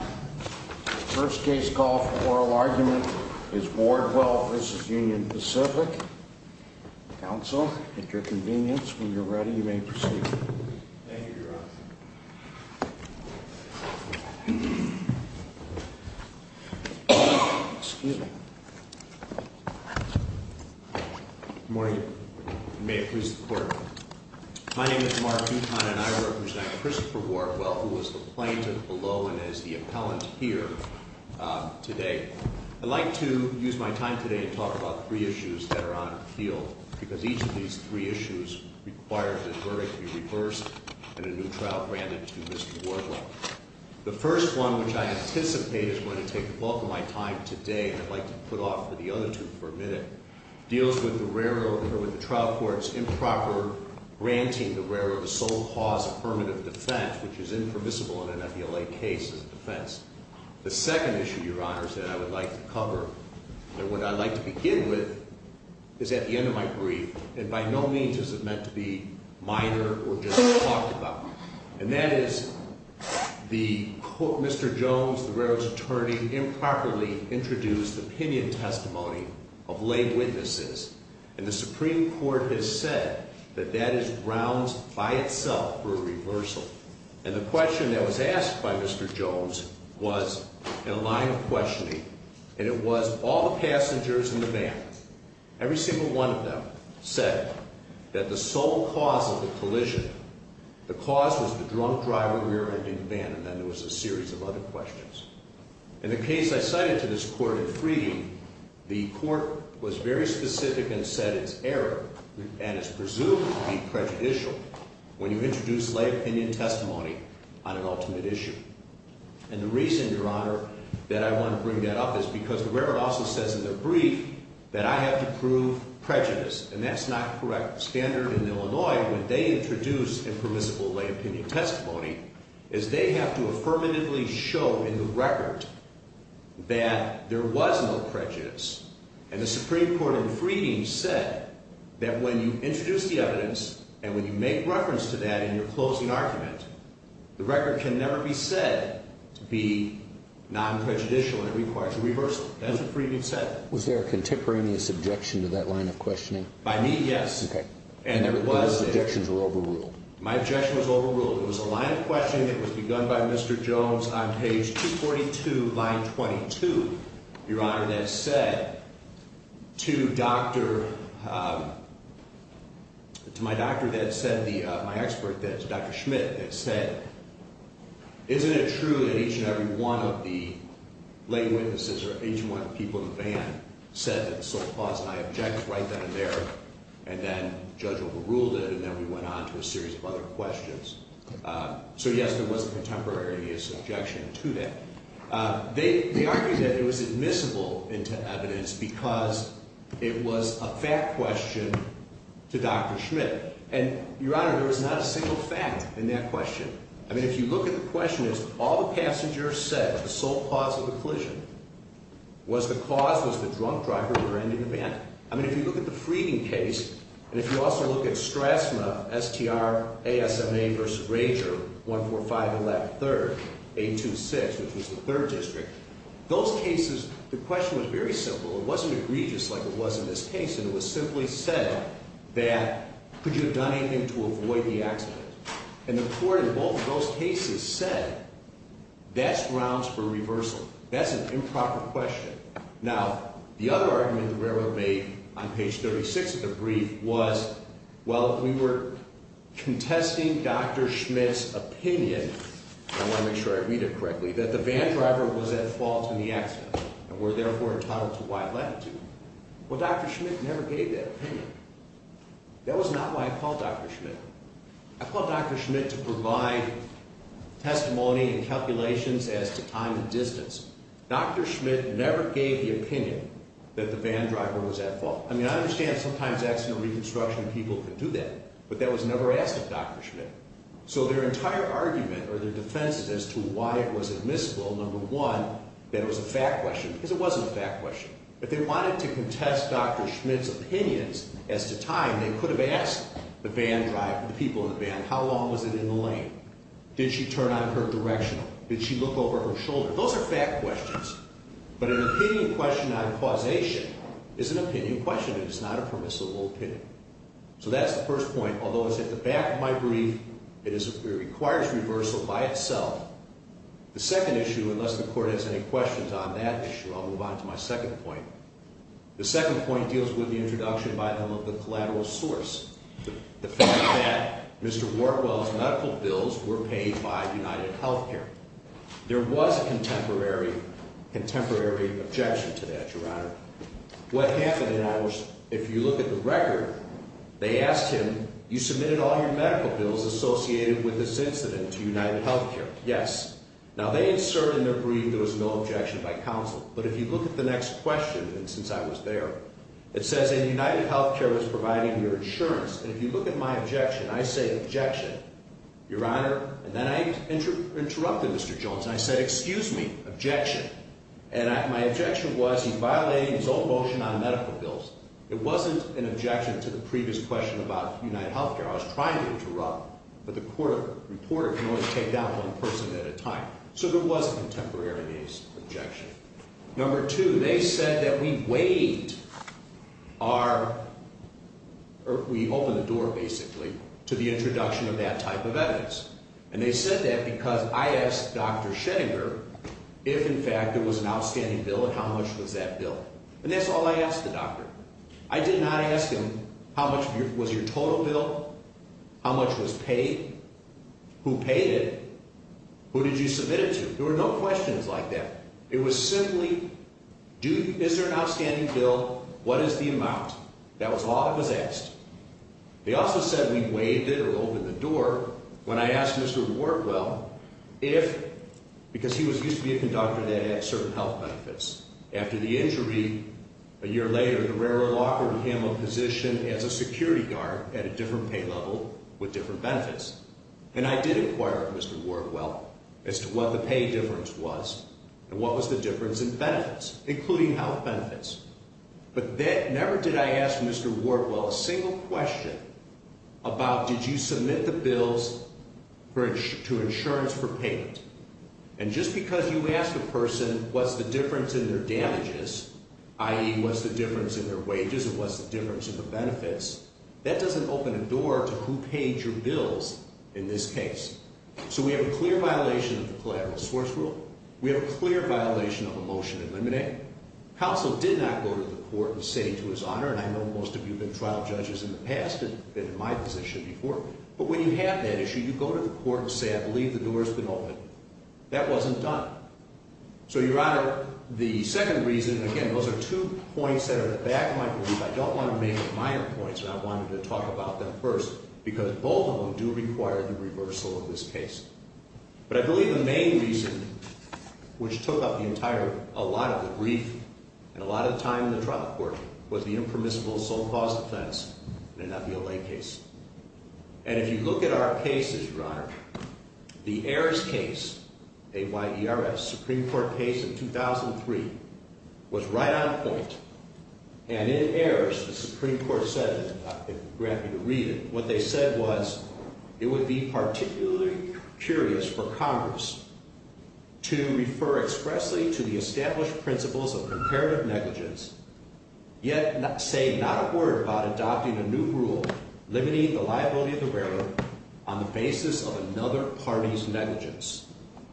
First case call for oral argument is Wardwell v. Union Pacific. Counsel, at your convenience, when you're ready, you may proceed. Thank you, Your Honor. Excuse me. Good morning. May it please the Court. My name is Mark Buchanan, and I represent Christopher Wardwell, who was the plaintiff below and is the appellant here today. I'd like to use my time today to talk about three issues that are on the field, because each of these three issues requires this verdict be reversed and a new trial granted to Mr. Wardwell. The first one, which I anticipate is going to take the bulk of my time today, and I'd like to put off for the other two for a minute, deals with the trial court's improper granting the railroad a sole cause affirmative defense, which is impermissible in an FBLA case as a defense. The second issue, Your Honor, that I would like to cover, and what I'd like to begin with, is at the end of my brief, and by no means is it meant to be minor or just talked about. And that is, Mr. Jones, the railroad's attorney, improperly introduced opinion testimony of lay witnesses, and the Supreme Court has said that that is grounds by itself for a reversal. And the question that was asked by Mr. Jones was in a line of questioning, and it was all the passengers in the van, every single one of them, said that the sole cause of the collision, the cause was the drunk driver rear-ending the van, and then there was a series of other questions. In the case I cited to this court in Freeding, the court was very specific and said it's error, and it's presumed to be prejudicial when you introduce lay opinion testimony on an ultimate issue. And the reason, Your Honor, that I want to bring that up is because the railroad also says in their brief that I have to prove prejudice, and that's not a correct standard in Illinois when they introduce impermissible lay opinion testimony, is they have to affirmatively show in the record that there was no prejudice. And the Supreme Court in Freeding said that when you introduce the evidence and when you make reference to that in your closing argument, the record can never be said to be non-prejudicial, and it requires a reversal. That's what Freeding said. Was there a contemporaneous objection to that line of questioning? By me, yes. Okay. And those objections were overruled. My objection was overruled. It was a line of questioning that was begun by Mr. Jones on page 242, line 22, Your Honor, that said to my doctor, my expert, Dr. Schmidt, that said, isn't it true that each and every one of the lay witnesses or each and every one of the people in the band said that the sole cause and I object right then and there, and then judge overruled it, and then we went on to a series of other questions. So, yes, there was a contemporaneous objection to that. They argued that it was admissible into evidence because it was a fact question to Dr. Schmidt. And, Your Honor, there was not a single fact in that question. I mean, if you look at the question, it's all the passengers said that the sole cause of the collision was the cause, was the drunk driver with her ending the band. I mean, if you look at the Freeding case, and if you also look at STRASMA, S-T-R-A-S-M-A versus Rager, 145113rd, 826, which was the third district, those cases, the question was very simple. It wasn't egregious like it was in this case, and it was simply said that could you have done anything to avoid the accident? And the court in both of those cases said that's grounds for reversal. That's an improper question. Now, the other argument that we ever made on page 36 of the brief was, well, we were contesting Dr. Schmidt's opinion, and I want to make sure I read it correctly, that the van driver was at fault in the accident and were therefore entitled to wide latitude. Well, Dr. Schmidt never gave that opinion. That was not why I called Dr. Schmidt. I called Dr. Schmidt to provide testimony and calculations as to time and distance. Dr. Schmidt never gave the opinion that the van driver was at fault. I mean, I understand sometimes accident reconstruction people could do that, but that was never asked of Dr. Schmidt. So their entire argument or their defense as to why it was admissible, number one, that it was a fact question, because it wasn't a fact question. If they wanted to contest Dr. Schmidt's opinions as to time, they could have asked the van driver, the people in the van, how long was it in the lane? Did she turn on her directional? Did she look over her shoulder? Those are fact questions, but an opinion question on causation is an opinion question. It is not a permissible opinion. So that's the first point. Although it's at the back of my brief, it requires reversal by itself. The second issue, unless the Court has any questions on that issue, I'll move on to my second point. The second point deals with the introduction by some of the collateral source, the fact that Mr. Wartwell's medical bills were paid by UnitedHealthcare. There was a contemporary objection to that, Your Honor. What happened, in other words, if you look at the record, they asked him, you submitted all your medical bills associated with this incident to UnitedHealthcare. Yes. Now, they assert in their brief there was no objection by counsel. But if you look at the next question, and since I was there, it says, and UnitedHealthcare is providing your insurance. And if you look at my objection, I say, objection, Your Honor. And then I interrupted Mr. Jones, and I said, excuse me, objection. And my objection was, he's violating his own motion on medical bills. It wasn't an objection to the previous question about UnitedHealthcare. I was trying to interrupt, but the reporter can only take down one person at a time. So there was a contemporary objection. Number two, they said that we weighed our, or we opened the door, basically, to the introduction of that type of evidence. And they said that because I asked Dr. Schenninger if, in fact, it was an outstanding bill and how much was that bill. And that's all I asked the doctor. I did not ask him how much was your total bill, how much was paid, who paid it, who did you submit it to. There were no questions like that. It was simply, is there an outstanding bill, what is the amount? That was all that was asked. They also said we weighed it or opened the door when I asked Mr. Wardwell if, because he used to be a conductor that had certain health benefits. After the injury, a year later, the railroad offered him a position as a security guard at a different pay level with different benefits. And I did inquire with Mr. Wardwell as to what the pay difference was and what was the difference in benefits, including health benefits. But never did I ask Mr. Wardwell a single question about did you submit the bills to insurance for payment. And just because you ask a person what's the difference in their damages, i.e., what's the difference in their wages and what's the difference in the benefits, that doesn't open a door to who paid your bills in this case. So we have a clear violation of the collateral source rule. We have a clear violation of a motion to eliminate. Counsel did not go to the court and say to his honor, and I know most of you have been trial judges in the past and been in my position before, but when you have that issue, you go to the court and say I believe the door has been opened. That wasn't done. So your honor, the second reason, again, those are two points that are in the back of my brief. I don't want to make minor points. I wanted to talk about them first because both of them do require the reversal of this case. But I believe the main reason which took up the entire, a lot of the brief and a lot of time in the trial court was the impermissible sole cause offense and not the LA case. And if you look at our cases, your honor, the Ayers case, A-Y-E-R-S, Supreme Court case in 2003, was right on point. And in Ayers, the Supreme Court said, if you grant me to read it, what they said was it would be particularly curious for Congress to refer expressly to the established principles of comparative negligence, yet say not a word about adopting a new rule limiting the liability of the railroad on the basis of another party's negligence.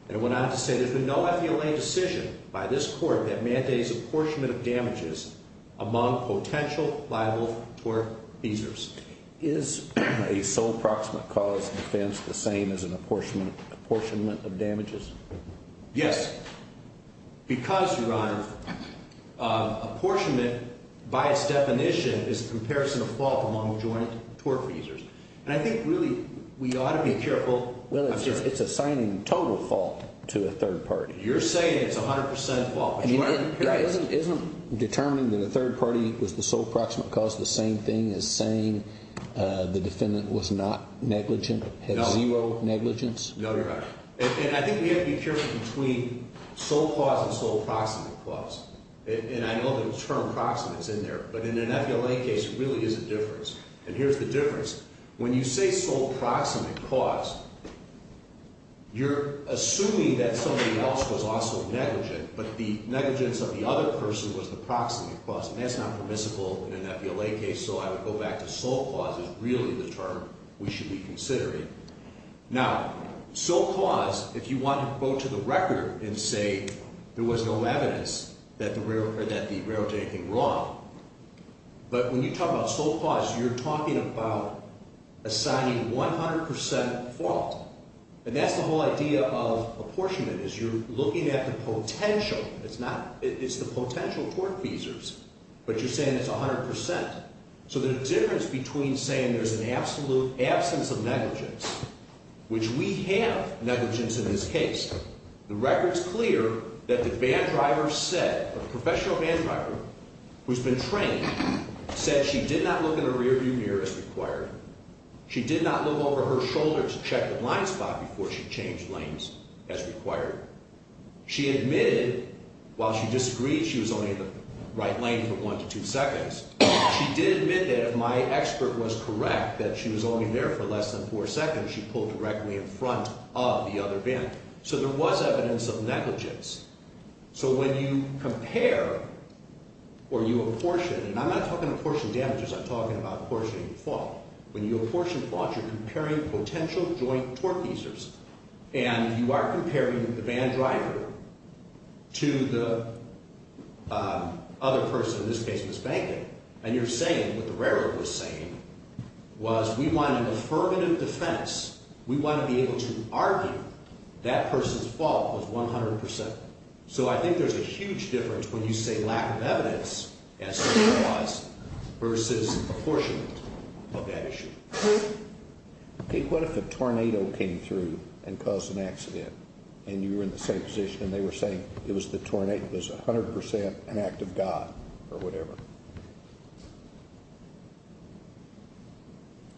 And it went on to say there's been no FDLA decision by this court that mandates apportionment of damages among potential liable tort offenders. Is a sole proximate cause offense the same as an apportionment of damages? Yes. Because, your honor, apportionment, by its definition, is a comparison of fault among joint tort offenders. And I think really we ought to be careful. Well, it's assigning total fault to a third party. You're saying it's 100% fault. It isn't determining that a third party was the sole proximate cause the same thing as saying the defendant was not negligent, had zero negligence? No, your honor. And I think we have to be careful between sole cause and sole proximate cause. And I know the term proximate is in there, but in an FDLA case, it really is a difference. And here's the difference. When you say sole proximate cause, you're assuming that somebody else was also negligent, but the negligence of the other person was the proximate cause. And that's not permissible in an FDLA case, so I would go back to sole cause is really the term we should be considering. Now, sole cause, if you want to go to the record and say there was no evidence that the railroad did anything wrong, but when you talk about sole cause, you're talking about assigning 100% fault. And that's the whole idea of apportionment, is you're looking at the potential. It's the potential tort feasors, but you're saying it's 100%. So there's a difference between saying there's an absolute absence of negligence, which we have negligence in this case. The record's clear that the van driver said, the professional van driver who's been trained, said she did not look in her rearview mirror as required. She did not look over her shoulder to check the blind spot before she changed lanes as required. She admitted while she disagreed she was only in the right lane for one to two seconds. She did admit that if my expert was correct that she was only there for less than four seconds, she pulled directly in front of the other van. So there was evidence of negligence. So when you compare or you apportion, and I'm not talking apportion damages. I'm talking about apportioning fault. When you apportion fault, you're comparing potential joint tort feasors. And if you are comparing the van driver to the other person, in this case Ms. Banker, and you're saying what the railroad was saying was we want an affirmative defense. We want to be able to argue that person's fault was 100%. So I think there's a huge difference when you say lack of evidence as to who it was versus apportionment of that issue. Okay, what if a tornado came through and caused an accident and you were in the same position and they were saying it was the tornado, it was 100% an act of God or whatever?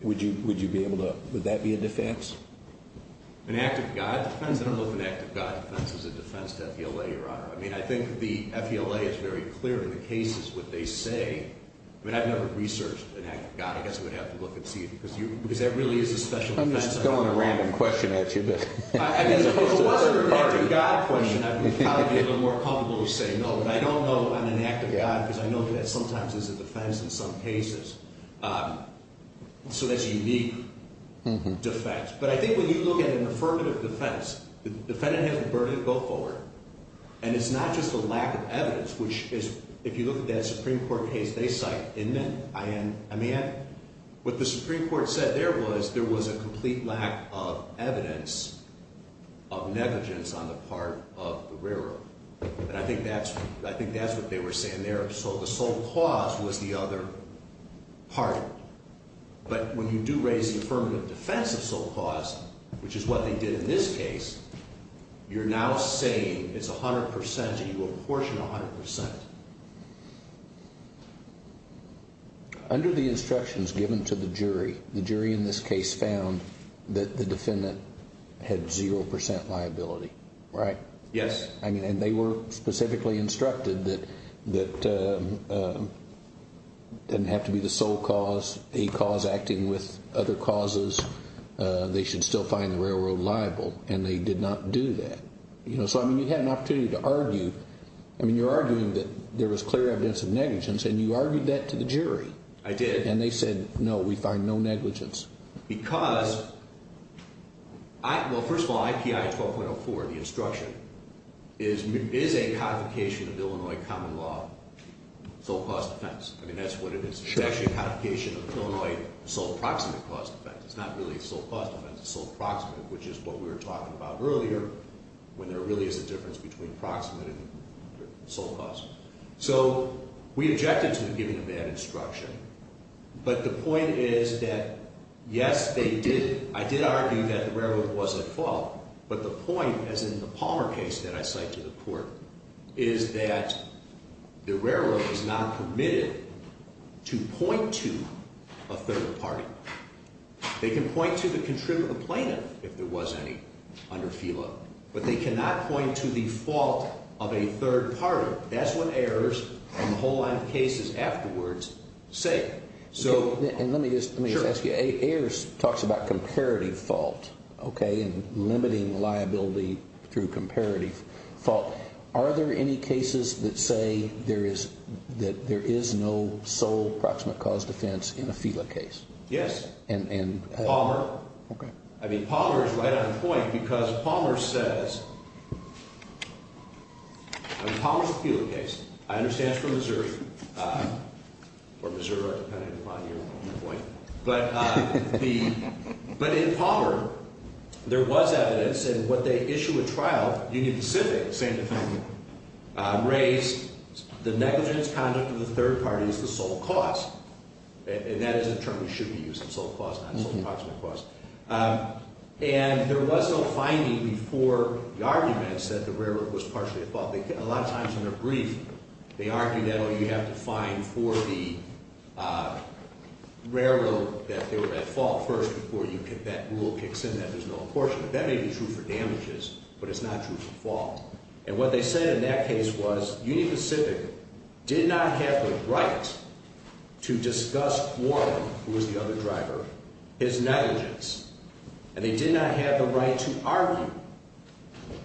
Would you be able to, would that be a defense? An act of God defense? I don't know if an act of God defense is a defense to FELA, Your Honor. I mean, I think the FELA is very clear in the cases what they say. I mean, I've never researched an act of God. I guess I would have to look and see because that really is a special defense. I'm just throwing a random question at you. I mean, if it was an act of God question, I would probably be a little more comfortable with saying no. But I don't know on an act of God because I know that sometimes is a defense in some cases. So that's a unique defense. But I think when you look at an affirmative defense, the defendant has the burden to go forward. And it's not just a lack of evidence, which is if you look at that Supreme Court case they cite, isn't it? What the Supreme Court said there was there was a complete lack of evidence of negligence on the part of the railroad. And I think that's what they were saying there. So the sole cause was the other part. But when you do raise the affirmative defense of sole cause, which is what they did in this case, you're now saying it's 100% and you apportion 100%. Under the instructions given to the jury, the jury in this case found that the defendant had 0% liability, right? Yes. And they were specifically instructed that it didn't have to be the sole cause, a cause acting with other causes. They should still find the railroad liable. And they did not do that. So you had an opportunity to argue. I mean, you're arguing that there was clear evidence of negligence. And you argued that to the jury. I did. And they said, no, we find no negligence. Because, well, first of all, IPI 12.04, the instruction, is a convocation of Illinois common law sole cause defense. I mean, that's what it is. It's actually a convocation of Illinois sole proximate cause defense. It's not really sole cause defense. It's sole proximate, which is what we were talking about earlier, when there really is a difference between proximate and sole cause. So we objected to giving a bad instruction. But the point is that, yes, they did. I did argue that the railroad was at fault. But the point, as in the Palmer case that I cite to the court, is that the railroad is not permitted to point to a third party. They can point to the contributor plaintiff, if there was any, under FILA. But they cannot point to the fault of a third party. That's what Ayers and the whole line of cases afterwards say. And let me just ask you. Ayers talks about comparative fault and limiting liability through comparative fault. Are there any cases that say that there is no sole proximate cause defense in a FILA case? Yes. Palmer. I mean, Palmer is right on point. Because Palmer says – I mean, Palmer is a FILA case. I understand it's for Missouri. Or Missouri, depending upon your point. But in Palmer, there was evidence in what they issue at trial, Union Pacific, the same defendant, raised the negligence conduct of the third party is the sole cause. And that is a term we should be using, sole cause, not sole proximate cause. And there was no finding before the arguments that the railroad was partially at fault. A lot of times in their brief, they argue that, oh, you have to find for the railroad that they were at fault first before that rule kicks in, that there's no apportionment. That may be true for damages, but it's not true for fault. And what they said in that case was Union Pacific did not have the right to discuss Wharton, who was the other driver, his negligence. And they did not have the right to argue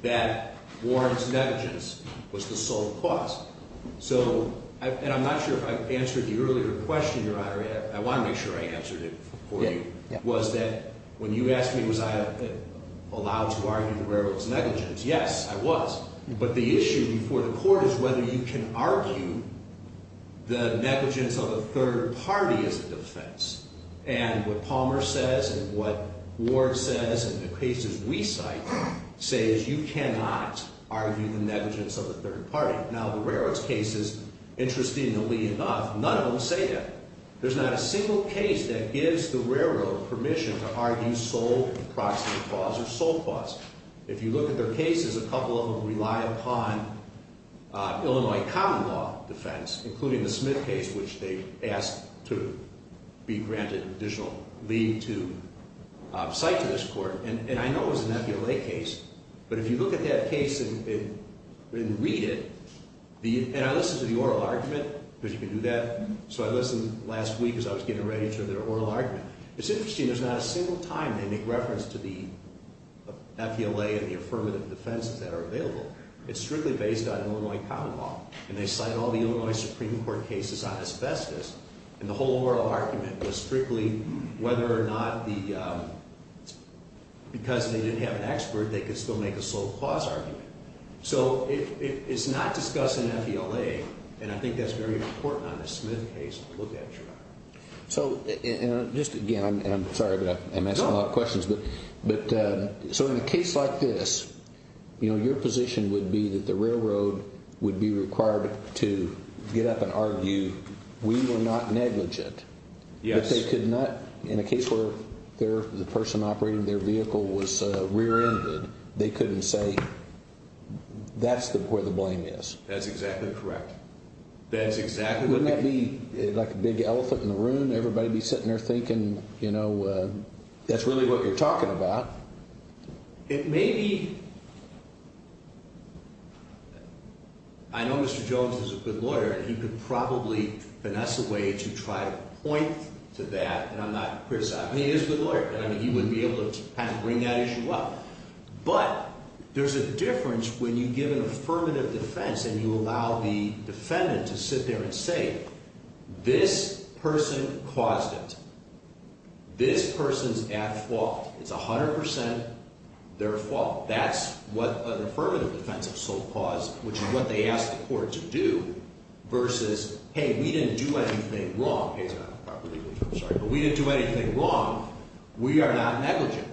that Wharton's negligence was the sole cause. So – and I'm not sure if I answered the earlier question, Your Honor. I want to make sure I answered it for you. Was that – when you asked me was I allowed to argue the railroad's negligence, yes, I was. But the issue before the court is whether you can argue the negligence of a third party as a defense. And what Palmer says and what Ward says and the cases we cite says you cannot argue the negligence of a third party. Now, the railroad's cases, interestingly enough, none of them say that. There's not a single case that gives the railroad permission to argue sole and proximate cause or sole cause. If you look at their cases, a couple of them rely upon Illinois common law defense, including the Smith case, which they asked to be granted additional leave to cite to this court. And I know it was an FULA case, but if you look at that case and read it, and I listened to the oral argument, because you can do that, so I listened last week as I was getting ready to their oral argument. It's interesting, there's not a single time they make reference to the FULA and the affirmative defenses that are available. It's strictly based on Illinois common law. And they cite all the Illinois Supreme Court cases on asbestos. And the whole oral argument was strictly whether or not the – because they didn't have an expert, they could still make a sole cause argument. So it's not discussed in FULA, and I think that's very important on the Smith case to look at. So just again, and I'm sorry, but I'm asking a lot of questions, but so in a case like this, your position would be that the railroad would be required to get up and argue we were not negligent. Yes. But they could not, in a case where the person operating their vehicle was rear-ended, they couldn't say that's where the blame is. That's exactly correct. Wouldn't that be like a big elephant in the room? Everybody would be sitting there thinking, you know, that's really what you're talking about. It may be. I know Mr. Jones is a good lawyer, and he could probably finesse a way to try to point to that, and I'm not criticizing him. He is a good lawyer, and he would be able to bring that issue up. But there's a difference when you give an affirmative defense and you allow the defendant to sit there and say, this person caused it. This person's at fault. It's 100 percent their fault. That's what an affirmative defense of sole cause, which is what they asked the court to do, versus, hey, we didn't do anything wrong. I'm sorry, but we didn't do anything wrong. We are not negligent.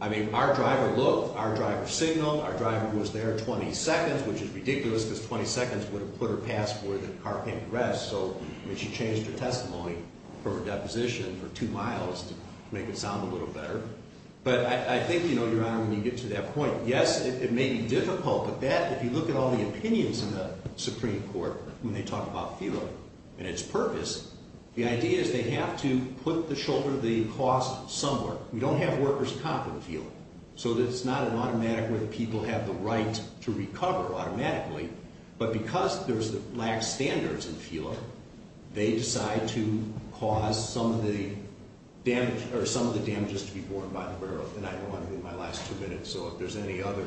I mean, our driver looked. Our driver signaled. Our driver was there 20 seconds, which is ridiculous, because 20 seconds would have put her past where the car can't progress. So, I mean, she changed her testimony for her deposition for two miles to make it sound a little better. But I think, you know, Your Honor, when you get to that point, yes, it may be difficult, but that, if you look at all the opinions in the Supreme Court when they talk about FELA and its purpose, the idea is they have to put the shoulder of the cause somewhere. We don't have workers' comp in FELA. So it's not an automatic way that people have the right to recover automatically. But because there's a lack of standards in FELA, they decide to cause some of the damage or some of the damages to be borne by the borough. And I know I'm in my last two minutes, so if there's any other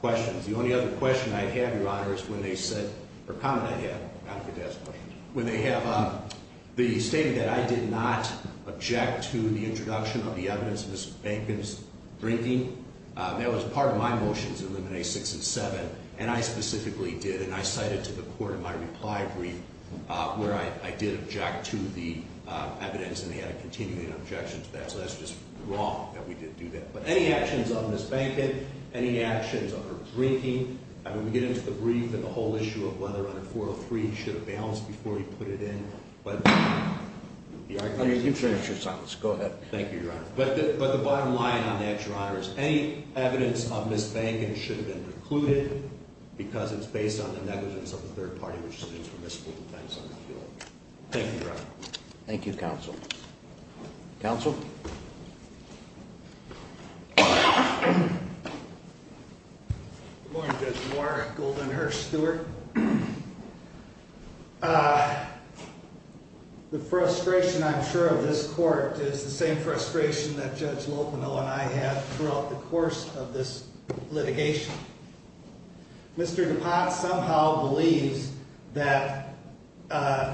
questions. The only other question I have, Your Honor, is when they said, or comment I had, when they have the statement that I did not object to the introduction of the evidence of Ms. Behnken's drinking, that was part of my motion to eliminate 6 and 7, and I specifically did, and I cited to the court in my reply brief where I did object to the evidence, and they had a continuing objection to that. So that's just wrong that we didn't do that. But any actions of Ms. Behnken, any actions of her drinking, I mean, we get into the brief and the whole issue of whether under 403 he should have balanced before he put it in, but the argument is— I mean, you've finished your sentence. Go ahead. Thank you, Your Honor. But the bottom line on that, Your Honor, is any evidence of Ms. Behnken should have been precluded because it's based on the negligence of the third party, which is students from this school. Thank you, Your Honor. Thank you, Counsel. Counsel? Good morning, Judge Moore, Goldenhurst, Stewart. The frustration, I'm sure, of this court is the same frustration that Judge Lopino and I had throughout the course of this litigation. Mr. DuPont somehow believes that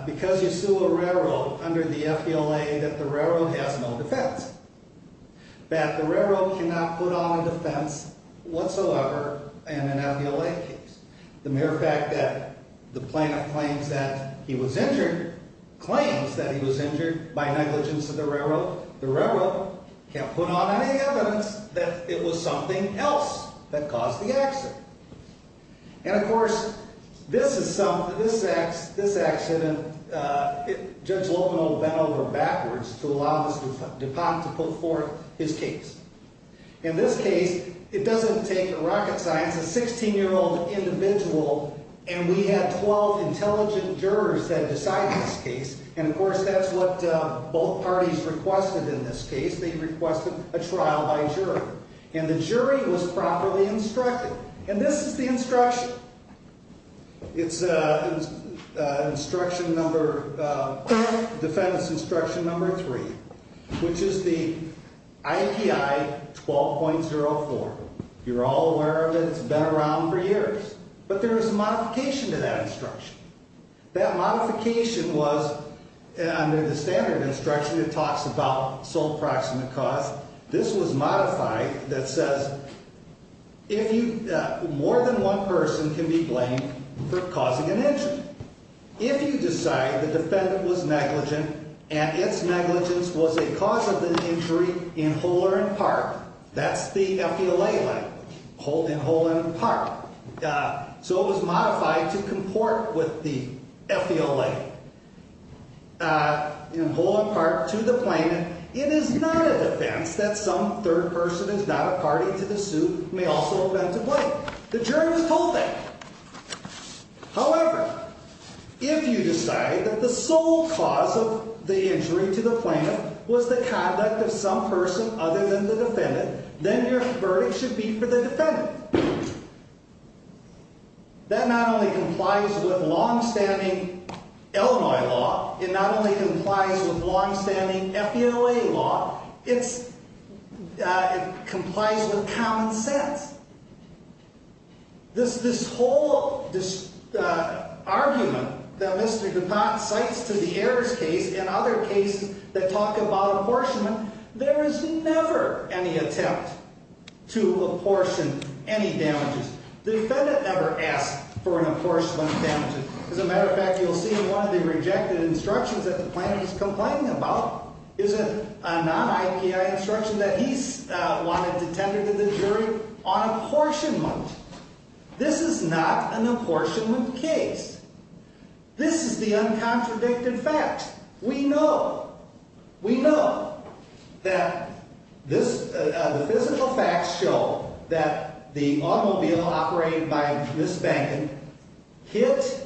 because you sue a railroad under the FDLA that the railroad has no defense, that the railroad cannot put on a defense whatsoever in an FDLA case. The mere fact that the plaintiff claims that he was injured by negligence of the railroad, the railroad can't put on any evidence that it was something else that caused the accident. And, of course, this accident, Judge Lopino bent over backwards to allow Mr. DuPont to put forth his case. In this case, it doesn't take a rocket science, a 16-year-old individual, and we had 12 intelligent jurors that decided this case, and, of course, that's what both parties requested in this case. They requested a trial by jury, and the jury was properly instructed, and this is the instruction. It's instruction number, defense instruction number 3, which is the IPI 12.04. You're all aware of it. It's been around for years, but there is a modification to that instruction. That modification was, under the standard instruction, it talks about sole proximate cause. This was modified that says if you, more than one person can be blamed for causing an injury. If you decide the defendant was negligent and its negligence was a cause of the injury in whole or in part, that's the FDLA language, in whole and in part. So it was modified to comport with the FDLA, in whole or in part, to the plaintiff. It is not a defense that some third person is not a party to the suit may also have been to blame. The jury was told that. However, if you decide that the sole cause of the injury to the plaintiff was the conduct of some person other than the defendant, then your verdict should be for the defendant. That not only complies with longstanding Illinois law. It not only complies with longstanding FDLA law. It complies with common sense. This whole argument that Mr. DuPont cites to the Ayers case and other cases that talk about apportionment, there is never any attempt to apportion any damages. The defendant never asked for an apportionment of damages. As a matter of fact, you'll see in one of the rejected instructions that the plaintiff is complaining about is a non-IPI instruction that he wanted to tender to the jury on apportionment. This is not an apportionment case. This is the uncontradicted fact. We know. We know that this physical facts show that the automobile operated by Ms. Bacon hit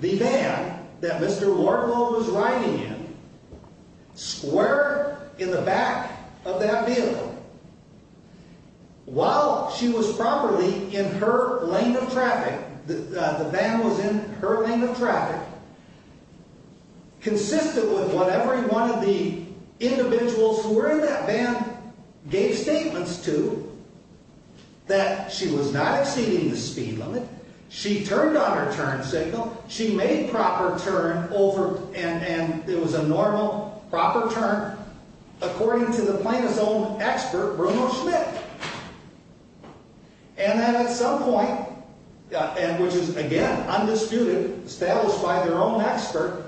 the van that Mr. Wardlow was riding in, squared in the back of that vehicle. While she was properly in her lane of traffic, the van was in her lane of traffic. Consistent with what every one of the individuals who were in that van gave statements to, that she was not exceeding the speed limit. She turned on her turn signal. She made proper turn over, and it was a normal, proper turn, according to the plaintiff's own expert, Bruno Schmidt. And then at some point, and which is, again, undisputed, established by their own expert,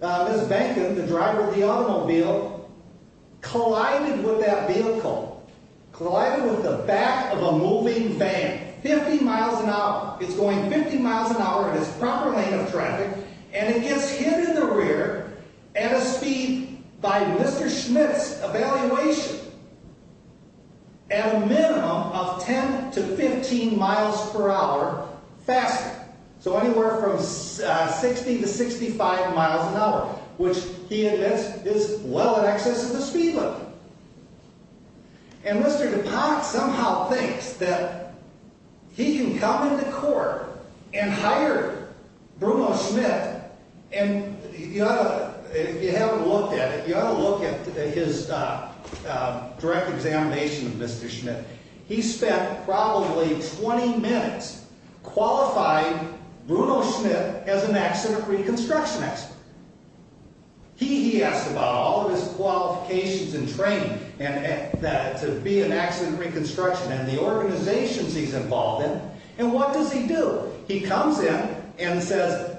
Ms. Bacon, the driver of the automobile, collided with that vehicle, collided with the back of a moving van, 50 miles an hour. It's going 50 miles an hour in its proper lane of traffic, and it gets hit in the rear at a speed by Mr. Schmidt's evaluation. At a minimum of 10 to 15 miles per hour faster. So anywhere from 60 to 65 miles an hour, which he admits is well in excess of the speed limit. And Mr. DuPont somehow thinks that he can come into court and hire Bruno Schmidt, and if you haven't looked at it, you ought to look at his direct examination of Mr. Schmidt. He spent probably 20 minutes qualifying Bruno Schmidt as an accident reconstruction expert. He asked about all of his qualifications and training to be an accident reconstruction, and the organizations he's involved in, and what does he do? He comes in and says,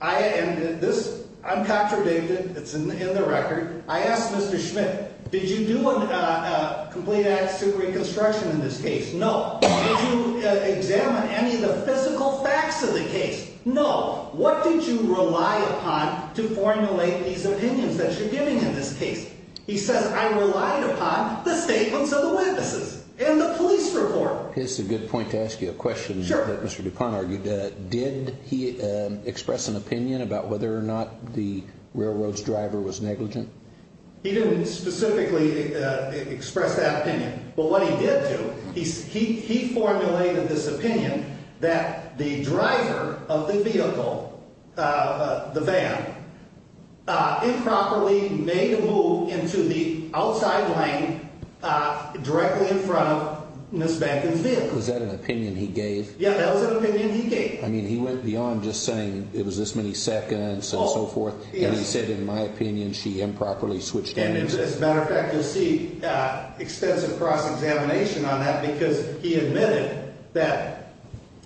I'm contradicted, it's in the record. I asked Mr. Schmidt, did you do a complete accident reconstruction in this case? No. Did you examine any of the physical facts of the case? No. What did you rely upon to formulate these opinions that you're giving in this case? He says, I relied upon the statements of the witnesses and the police report. It's a good point to ask you a question that Mr. DuPont argued. Did he express an opinion about whether or not the railroad's driver was negligent? He didn't specifically express that opinion. But what he did do, he formulated this opinion that the driver of the vehicle, the van, improperly made a move into the outside lane directly in front of Ms. Banton's vehicle. Was that an opinion he gave? Yeah, that was an opinion he gave. I mean, he went beyond just saying it was this many seconds and so forth, and he said, in my opinion, she improperly switched lanes. And as a matter of fact, you'll see extensive cross-examination on that, because he admitted that.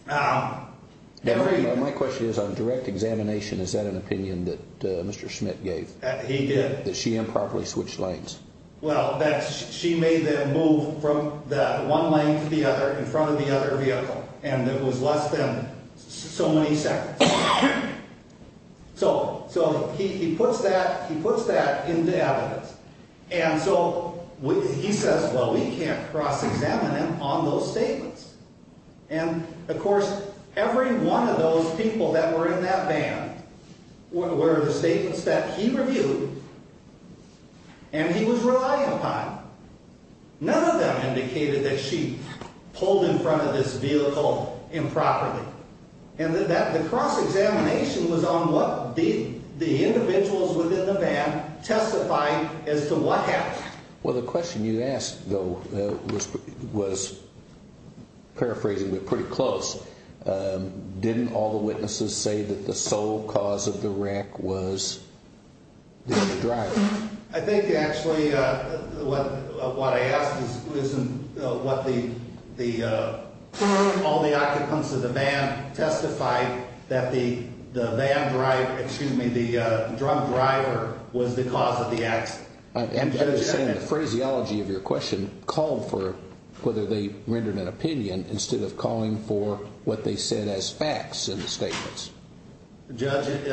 My question is, on direct examination, is that an opinion that Mr. Schmidt gave? He did. That she improperly switched lanes. Well, that she made them move from one lane to the other in front of the other vehicle, and it was less than so many seconds. So he puts that into evidence. And so he says, well, we can't cross-examine him on those statements. And, of course, every one of those people that were in that van were the statements that he reviewed and he was relying upon. None of them indicated that she pulled in front of this vehicle improperly. And the cross-examination was on what the individuals within the van testified as to what happened. Well, the question you asked, though, was, paraphrasing, but pretty close. Didn't all the witnesses say that the sole cause of the wreck was the driver? I think, actually, what I asked is, wasn't all the occupants of the van testify that the van driver, excuse me, the drunk driver was the cause of the accident? I understand the phraseology of your question called for whether they rendered an opinion instead of calling for what they said as facts in the statements. Judge, it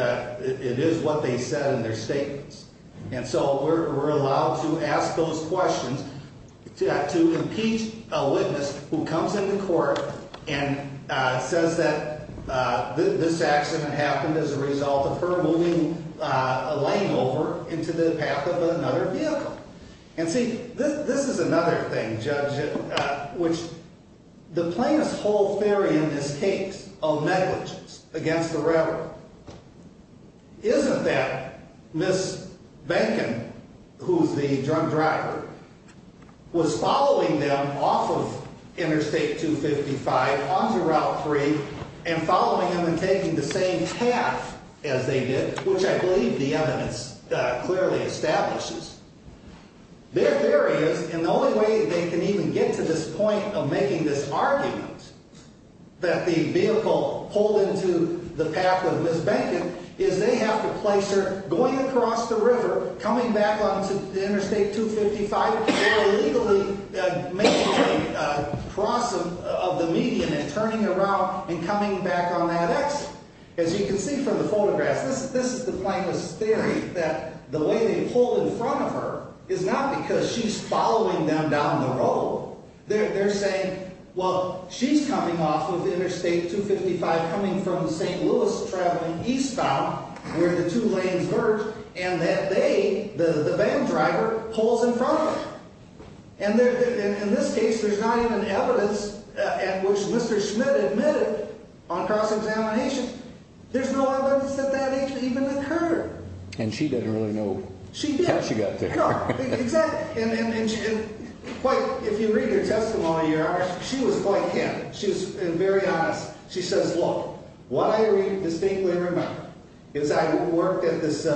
is what they said in their statements. And so we're allowed to ask those questions to impeach a witness who comes into court and says that this accident happened as a result of her moving a lane over into the path of another vehicle. And see, this is another thing, Judge, which the plaintiff's whole theory in this case of negligence against the driver. Isn't that Ms. Behnken, who's the drunk driver, was following them off of Interstate 255 onto Route 3 and following them and taking the same path as they did, which I believe the evidence clearly establishes. Their theory is, and the only way they can even get to this point of making this argument that the vehicle pulled into the path of Ms. Behnken is they have to place her going across the river, coming back onto Interstate 255, or illegally making a cross of the median and turning around and coming back on that exit. As you can see from the photographs, this is the plaintiff's theory that the way they pulled in front of her is not because she's following them down the road. They're saying, well, she's coming off of Interstate 255 coming from the St. Louis traveling eastbound, where the two lanes merge, and that they, the van driver, pulls in front of her. And in this case, there's not even evidence at which Mr. Schmidt admitted on cross-examination. There's no evidence that that even occurred. And she didn't really know how she got there. No, exactly. And if you read her testimony, she was quite candid. She was very honest. She says, look, what I distinctly remember is I worked at this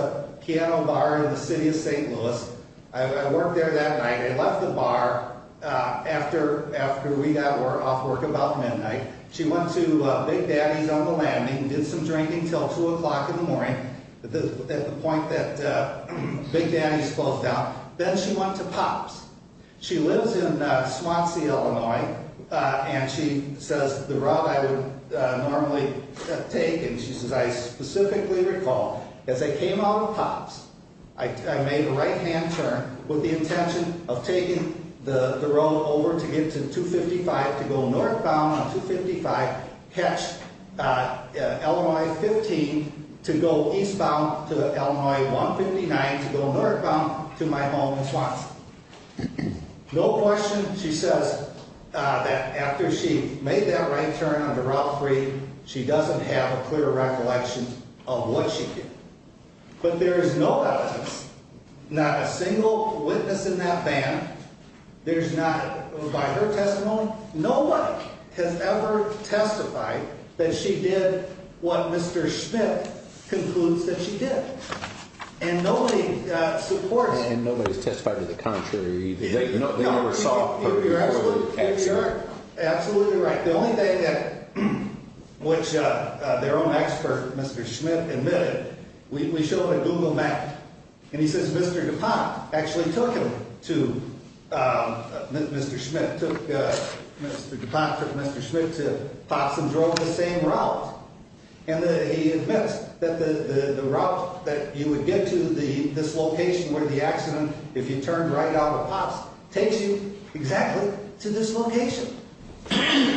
piano bar in the city of St. Louis. I worked there that night. I left the bar after we got off work about midnight. She went to Big Daddy's on the landing, did some drinking until 2 o'clock in the morning at the point that Big Daddy's closed down. Then she went to Pop's. She lives in Swansea, Illinois, and she says the route I would normally take, and she says I specifically recall as I came out of Pop's, I made a right-hand turn with the intention of taking the road over to get to 255 to go northbound on 255, catch Illinois 15 to go eastbound to Illinois 159 to go northbound to my home in Swansea. No question she says that after she made that right turn on the Route 3, she doesn't have a clear recollection of what she did. But there is no evidence, not a single witness in that band. There's not, by her testimony, nobody has ever testified that she did what Mr. Schmidt concludes that she did. And nobody supports it. And nobody's testified to the contrary. They never saw her. You're absolutely right. The only thing that which their own expert, Mr. Schmidt, admitted, we showed a Google map, and he says Mr. DuPont actually took him to Mr. Schmidt, took Mr. DuPont, took Mr. Schmidt to Pop's and drove the same route. And he admits that the route that you would get to this location where the accident, if you turned right out of Pop's, takes you exactly to this location.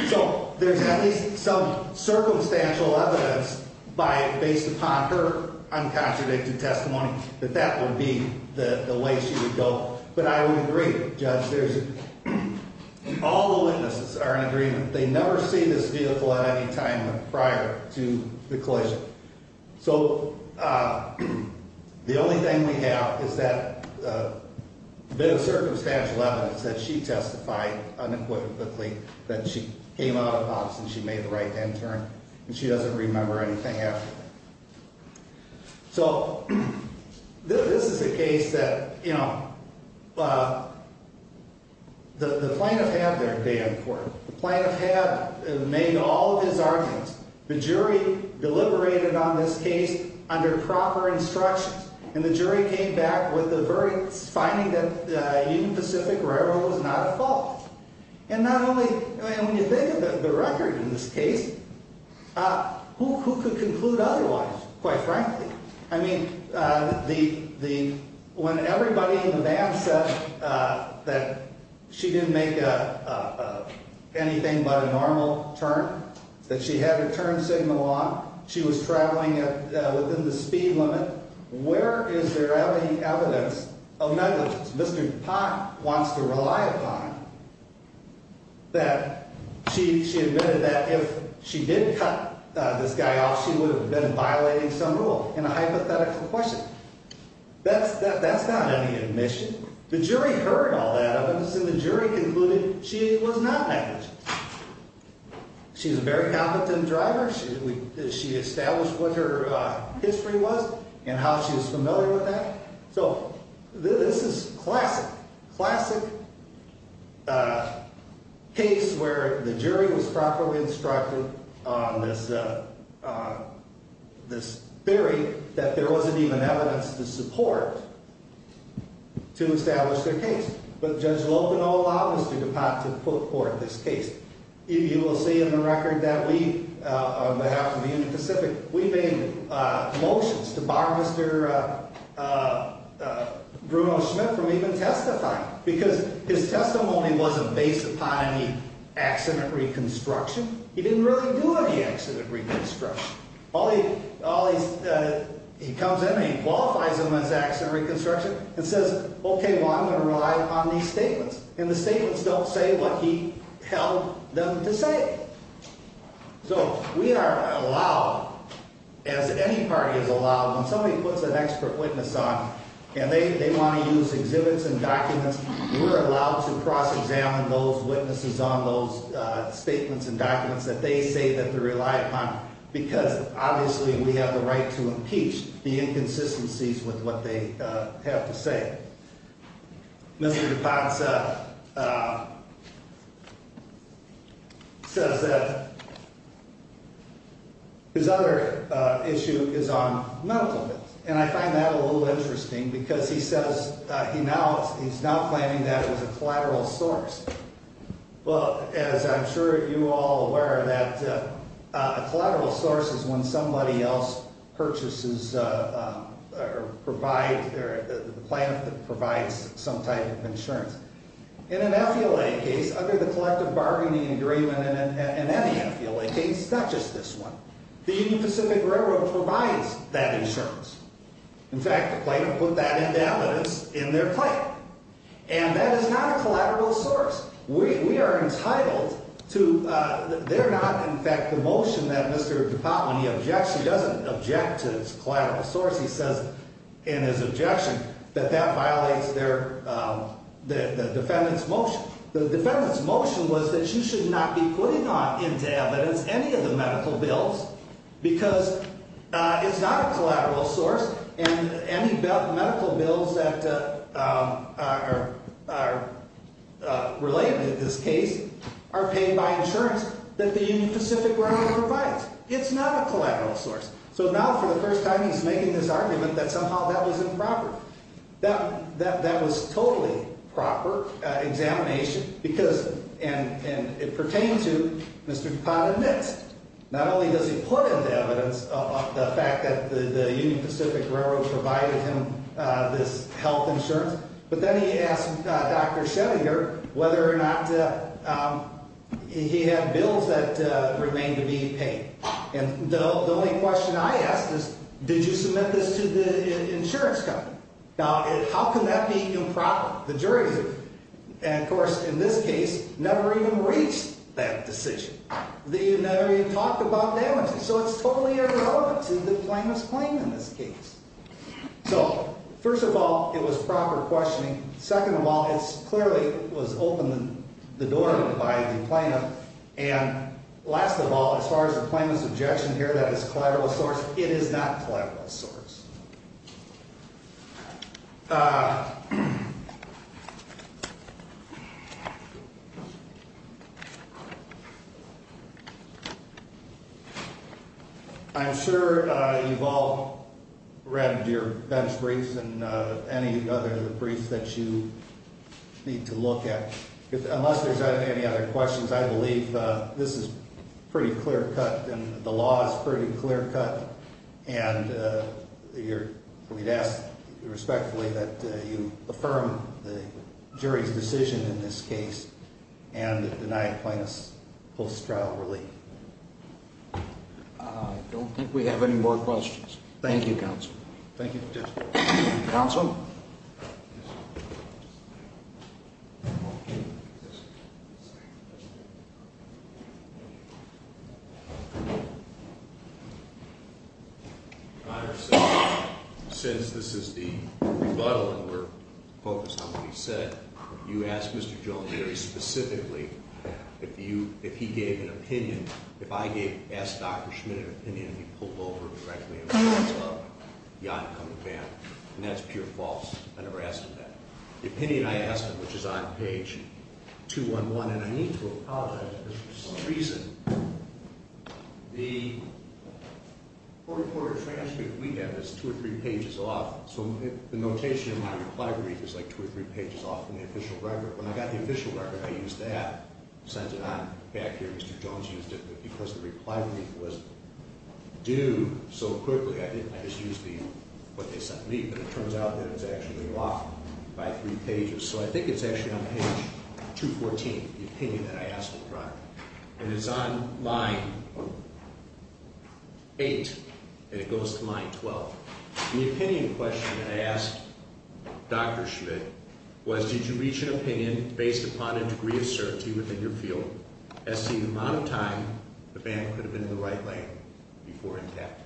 So there's at least some circumstantial evidence based upon her uncontradicted testimony that that would be the way she would go. But I would agree, Judge, all the witnesses are in agreement. They never see this vehicle at any time prior to the collision. So the only thing we have is that bit of circumstantial evidence that she testified unequivocally that she came out of Pop's and she made the right hand turn. And she doesn't remember anything after that. So this is a case that, you know, the plaintiff had their day in court. The plaintiff had made all of his arguments. The jury deliberated on this case under proper instructions. And the jury came back with the verdicts finding that Union Pacific Railroad was not at fault. And not only, I mean, when you think of the record in this case, who could conclude otherwise, quite frankly? I mean, the when everybody in the van said that she didn't make anything but a normal turn, that she had her turn signal on, she was traveling within the speed limit, where is there any evidence of negligence? Mr. Pop wants to rely upon that she admitted that if she did cut this guy off, she would have been violating some rule in a hypothetical question. That's not any admission. The jury heard all that evidence, and the jury concluded she was not negligent. She's a very competent driver. She established what her history was and how she was familiar with that. So this is classic, classic case where the jury was properly instructed on this theory that there wasn't even evidence to support to establish their case. But Judge Lopenow allowed Mr. DePott to put forth this case. You will see in the record that we, on behalf of Union Pacific, we made motions to bar Mr. Bruno Schmidt from even testifying because his testimony wasn't based upon any accident reconstruction. He didn't really do any accident reconstruction. He comes in and he qualifies him as accident reconstruction and says, okay, well, I'm going to rely upon these statements. And the statements don't say what he held them to say. So we are allowed, as any party is allowed, when somebody puts an expert witness on and they want to use exhibits and documents, we're allowed to cross-examine those witnesses on those statements and documents that they say that they rely upon. Because, obviously, we have the right to impeach the inconsistencies with what they have to say. Mr. DePott says that his other issue is on medical bills. And I find that a little interesting because he says he's now claiming that it was a collateral source. Well, as I'm sure you all are aware, that a collateral source is when somebody else purchases or provides, the plant provides some type of insurance. In an FELA case, under the collective bargaining agreement and any FELA case, not just this one, the Union Pacific Railroad provides that insurance. In fact, the plant will put that into evidence in their claim. And that is not a collateral source. We are entitled to – they're not – in fact, the motion that Mr. DePott, when he objects, he doesn't object to this collateral source. He says in his objection that that violates their – the defendant's motion. The defendant's motion was that you should not be putting into evidence any of the medical bills because it's not a collateral source. And any medical bills that are related in this case are paid by insurance that the Union Pacific Railroad provides. It's not a collateral source. So now, for the first time, he's making this argument that somehow that was improper. That was totally proper examination because – and it pertained to Mr. DePott admits not only does he put into evidence the fact that the Union Pacific Railroad provided him this health insurance, but then he asked Dr. Schrodinger whether or not he had bills that remained to be paid. And the only question I asked is, did you submit this to the insurance company? Now, how can that be improper? The jury's – and, of course, in this case, never even reached that decision. They never even talked about damages. So it's totally irrelevant to the plaintiff's claim in this case. So, first of all, it was proper questioning. Second of all, it clearly was opened the door by the plaintiff. And last of all, as far as the plaintiff's objection here that it's a collateral source, it is not a collateral source. I'm sure you've all read your bench briefs and any other briefs that you need to look at. Unless there's any other questions, I believe this is pretty clear-cut and the law is pretty clear-cut. And we'd ask respectfully that you affirm the jury's decision in this case and deny plaintiff's post-trial relief. I don't think we have any more questions. Thank you, Counsel. Thank you. Counsel. Thank you. Your Honor, since this is the rebuttal and we're focused on what he said, you asked Mr. Jones very specifically if he gave an opinion. If I gave – asked Dr. Schmitt an opinion and he pulled over and directed me in front of the oncoming panel, and that's pure false. I never asked him that. The opinion I asked him, which is on page 211 – and I need to apologize because for some reason the quarter-quarter transcript we have is two or three pages off. So the notation in my reply brief is like two or three pages off from the official record. When I got the official record, I used that, sent it on back here. Mr. Jones used it. But because the reply brief was due so quickly, I think I just used the – what they sent me. But it turns out that it's actually off by three pages. So I think it's actually on page 214, the opinion that I asked him for. And it's on line 8, and it goes to line 12. The opinion question that I asked Dr. Schmitt was, did you reach an opinion based upon a degree of certainty within your field, as to the amount of time the band could have been in the right lane before intact?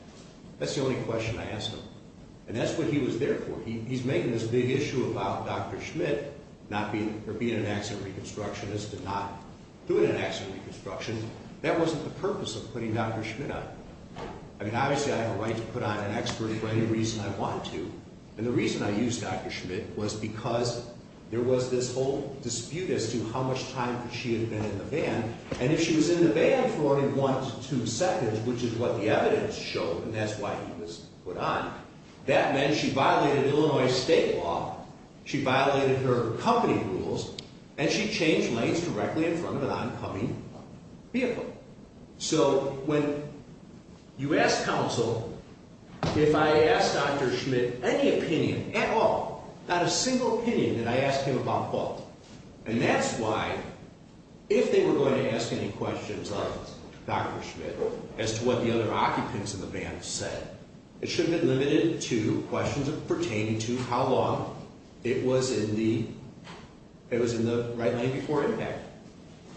That's the only question I asked him. And that's what he was there for. He's making this big issue about Dr. Schmitt not being – or being an accident reconstructionist and not doing an accident reconstruction. That wasn't the purpose of putting Dr. Schmitt on. I mean, obviously I have a right to put on an expert for any reason I want to. And the reason I used Dr. Schmitt was because there was this whole dispute as to how much time could she have been in the band. And if she was in the band for only one to two seconds, which is what the evidence showed, and that's why he was put on, that meant she violated Illinois state law, she violated her company rules, and she changed lanes directly in front of an oncoming vehicle. So when you ask counsel if I asked Dr. Schmitt any opinion at all, not a single opinion that I asked him about fault, and that's why if they were going to ask any questions of Dr. Schmitt as to what the other occupants in the band said, it should have been limited to questions pertaining to how long it was in the right lane before impact.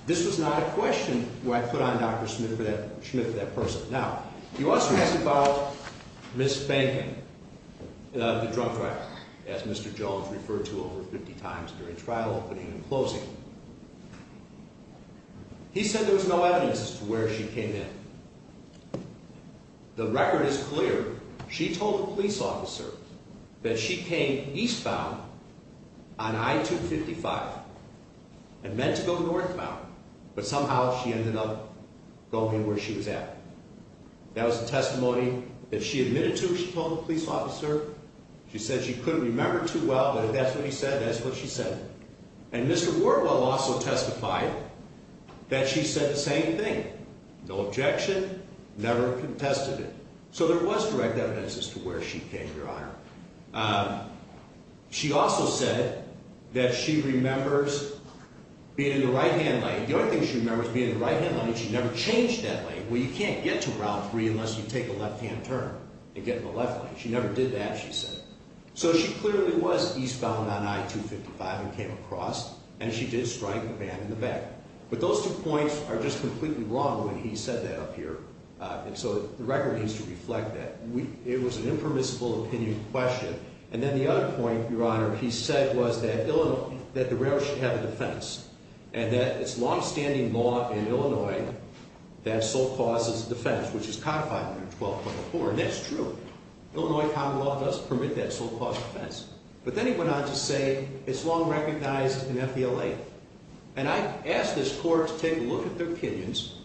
This was not a question where I put on Dr. Schmitt for that person. Now, you also asked about Ms. Banking, the drug trafficker, as Mr. Jones referred to over 50 times during trial opening and closing. He said there was no evidence as to where she came in. The record is clear. She told the police officer that she came eastbound on I-255 and meant to go northbound, but somehow she ended up going where she was at. That was the testimony that she admitted to, she told the police officer. She said she couldn't remember too well, but if that's what he said, that's what she said. And Mr. Wardwell also testified that she said the same thing, no objection, never contested it. So there was direct evidence as to where she came, Your Honor. She also said that she remembers being in the right-hand lane. The only thing she remembers being in the right-hand lane is she never changed that lane. Well, you can't get to Route 3 unless you take a left-hand turn and get in the left lane. She never did that, she said. So she clearly was eastbound on I-255 and came across, and she did strike the band in the back. But those two points are just completely wrong when he said that up here. And so the record needs to reflect that. It was an impermissible opinion question. And then the other point, Your Honor, he said was that the railroad should have a defense and that it's longstanding law in Illinois that sole cause is defense, which is codified under 12.4. And that's true. Illinois common law doesn't permit that sole cause defense. But then he went on to say it's long recognized in FBLA. And I asked this court to take a look at their opinions.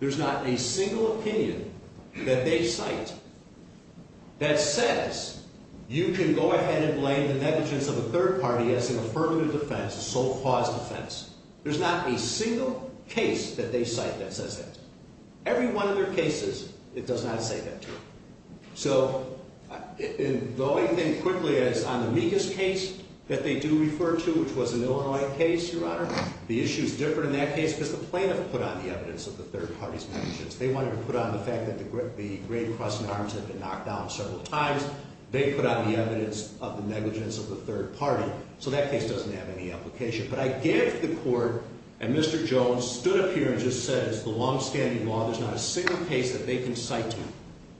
There's not a single opinion that they cite that says you can go ahead and blame the negligence of a third party as an affirmative defense, a sole cause defense. There's not a single case that they cite that says that. Every one of their cases, it does not say that to them. So the only thing quickly is on the Meekus case that they do refer to, which was an Illinois case, Your Honor, the issues differ in that case because the plaintiff put on the evidence of the third party's negligence. They wanted to put on the fact that the Great Crossing Arms had been knocked down several times. They put on the evidence of the negligence of the third party. So that case doesn't have any application. But I gave it to the court, and Mr. Jones stood up here and just said it's the longstanding law. There's not a single case that they can cite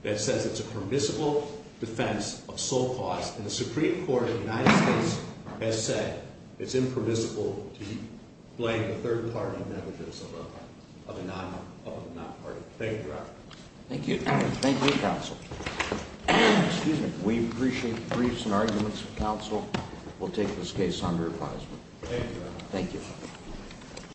that says it's a permissible defense of sole cause. And the Supreme Court of the United States has said it's impermissible to blame the third party negligence of a non-party. Thank you, Your Honor. Thank you. Thank you, counsel. Excuse me. We appreciate the briefs and arguments of counsel. We'll take this case under advisement. Thank you, Your Honor. Thank you.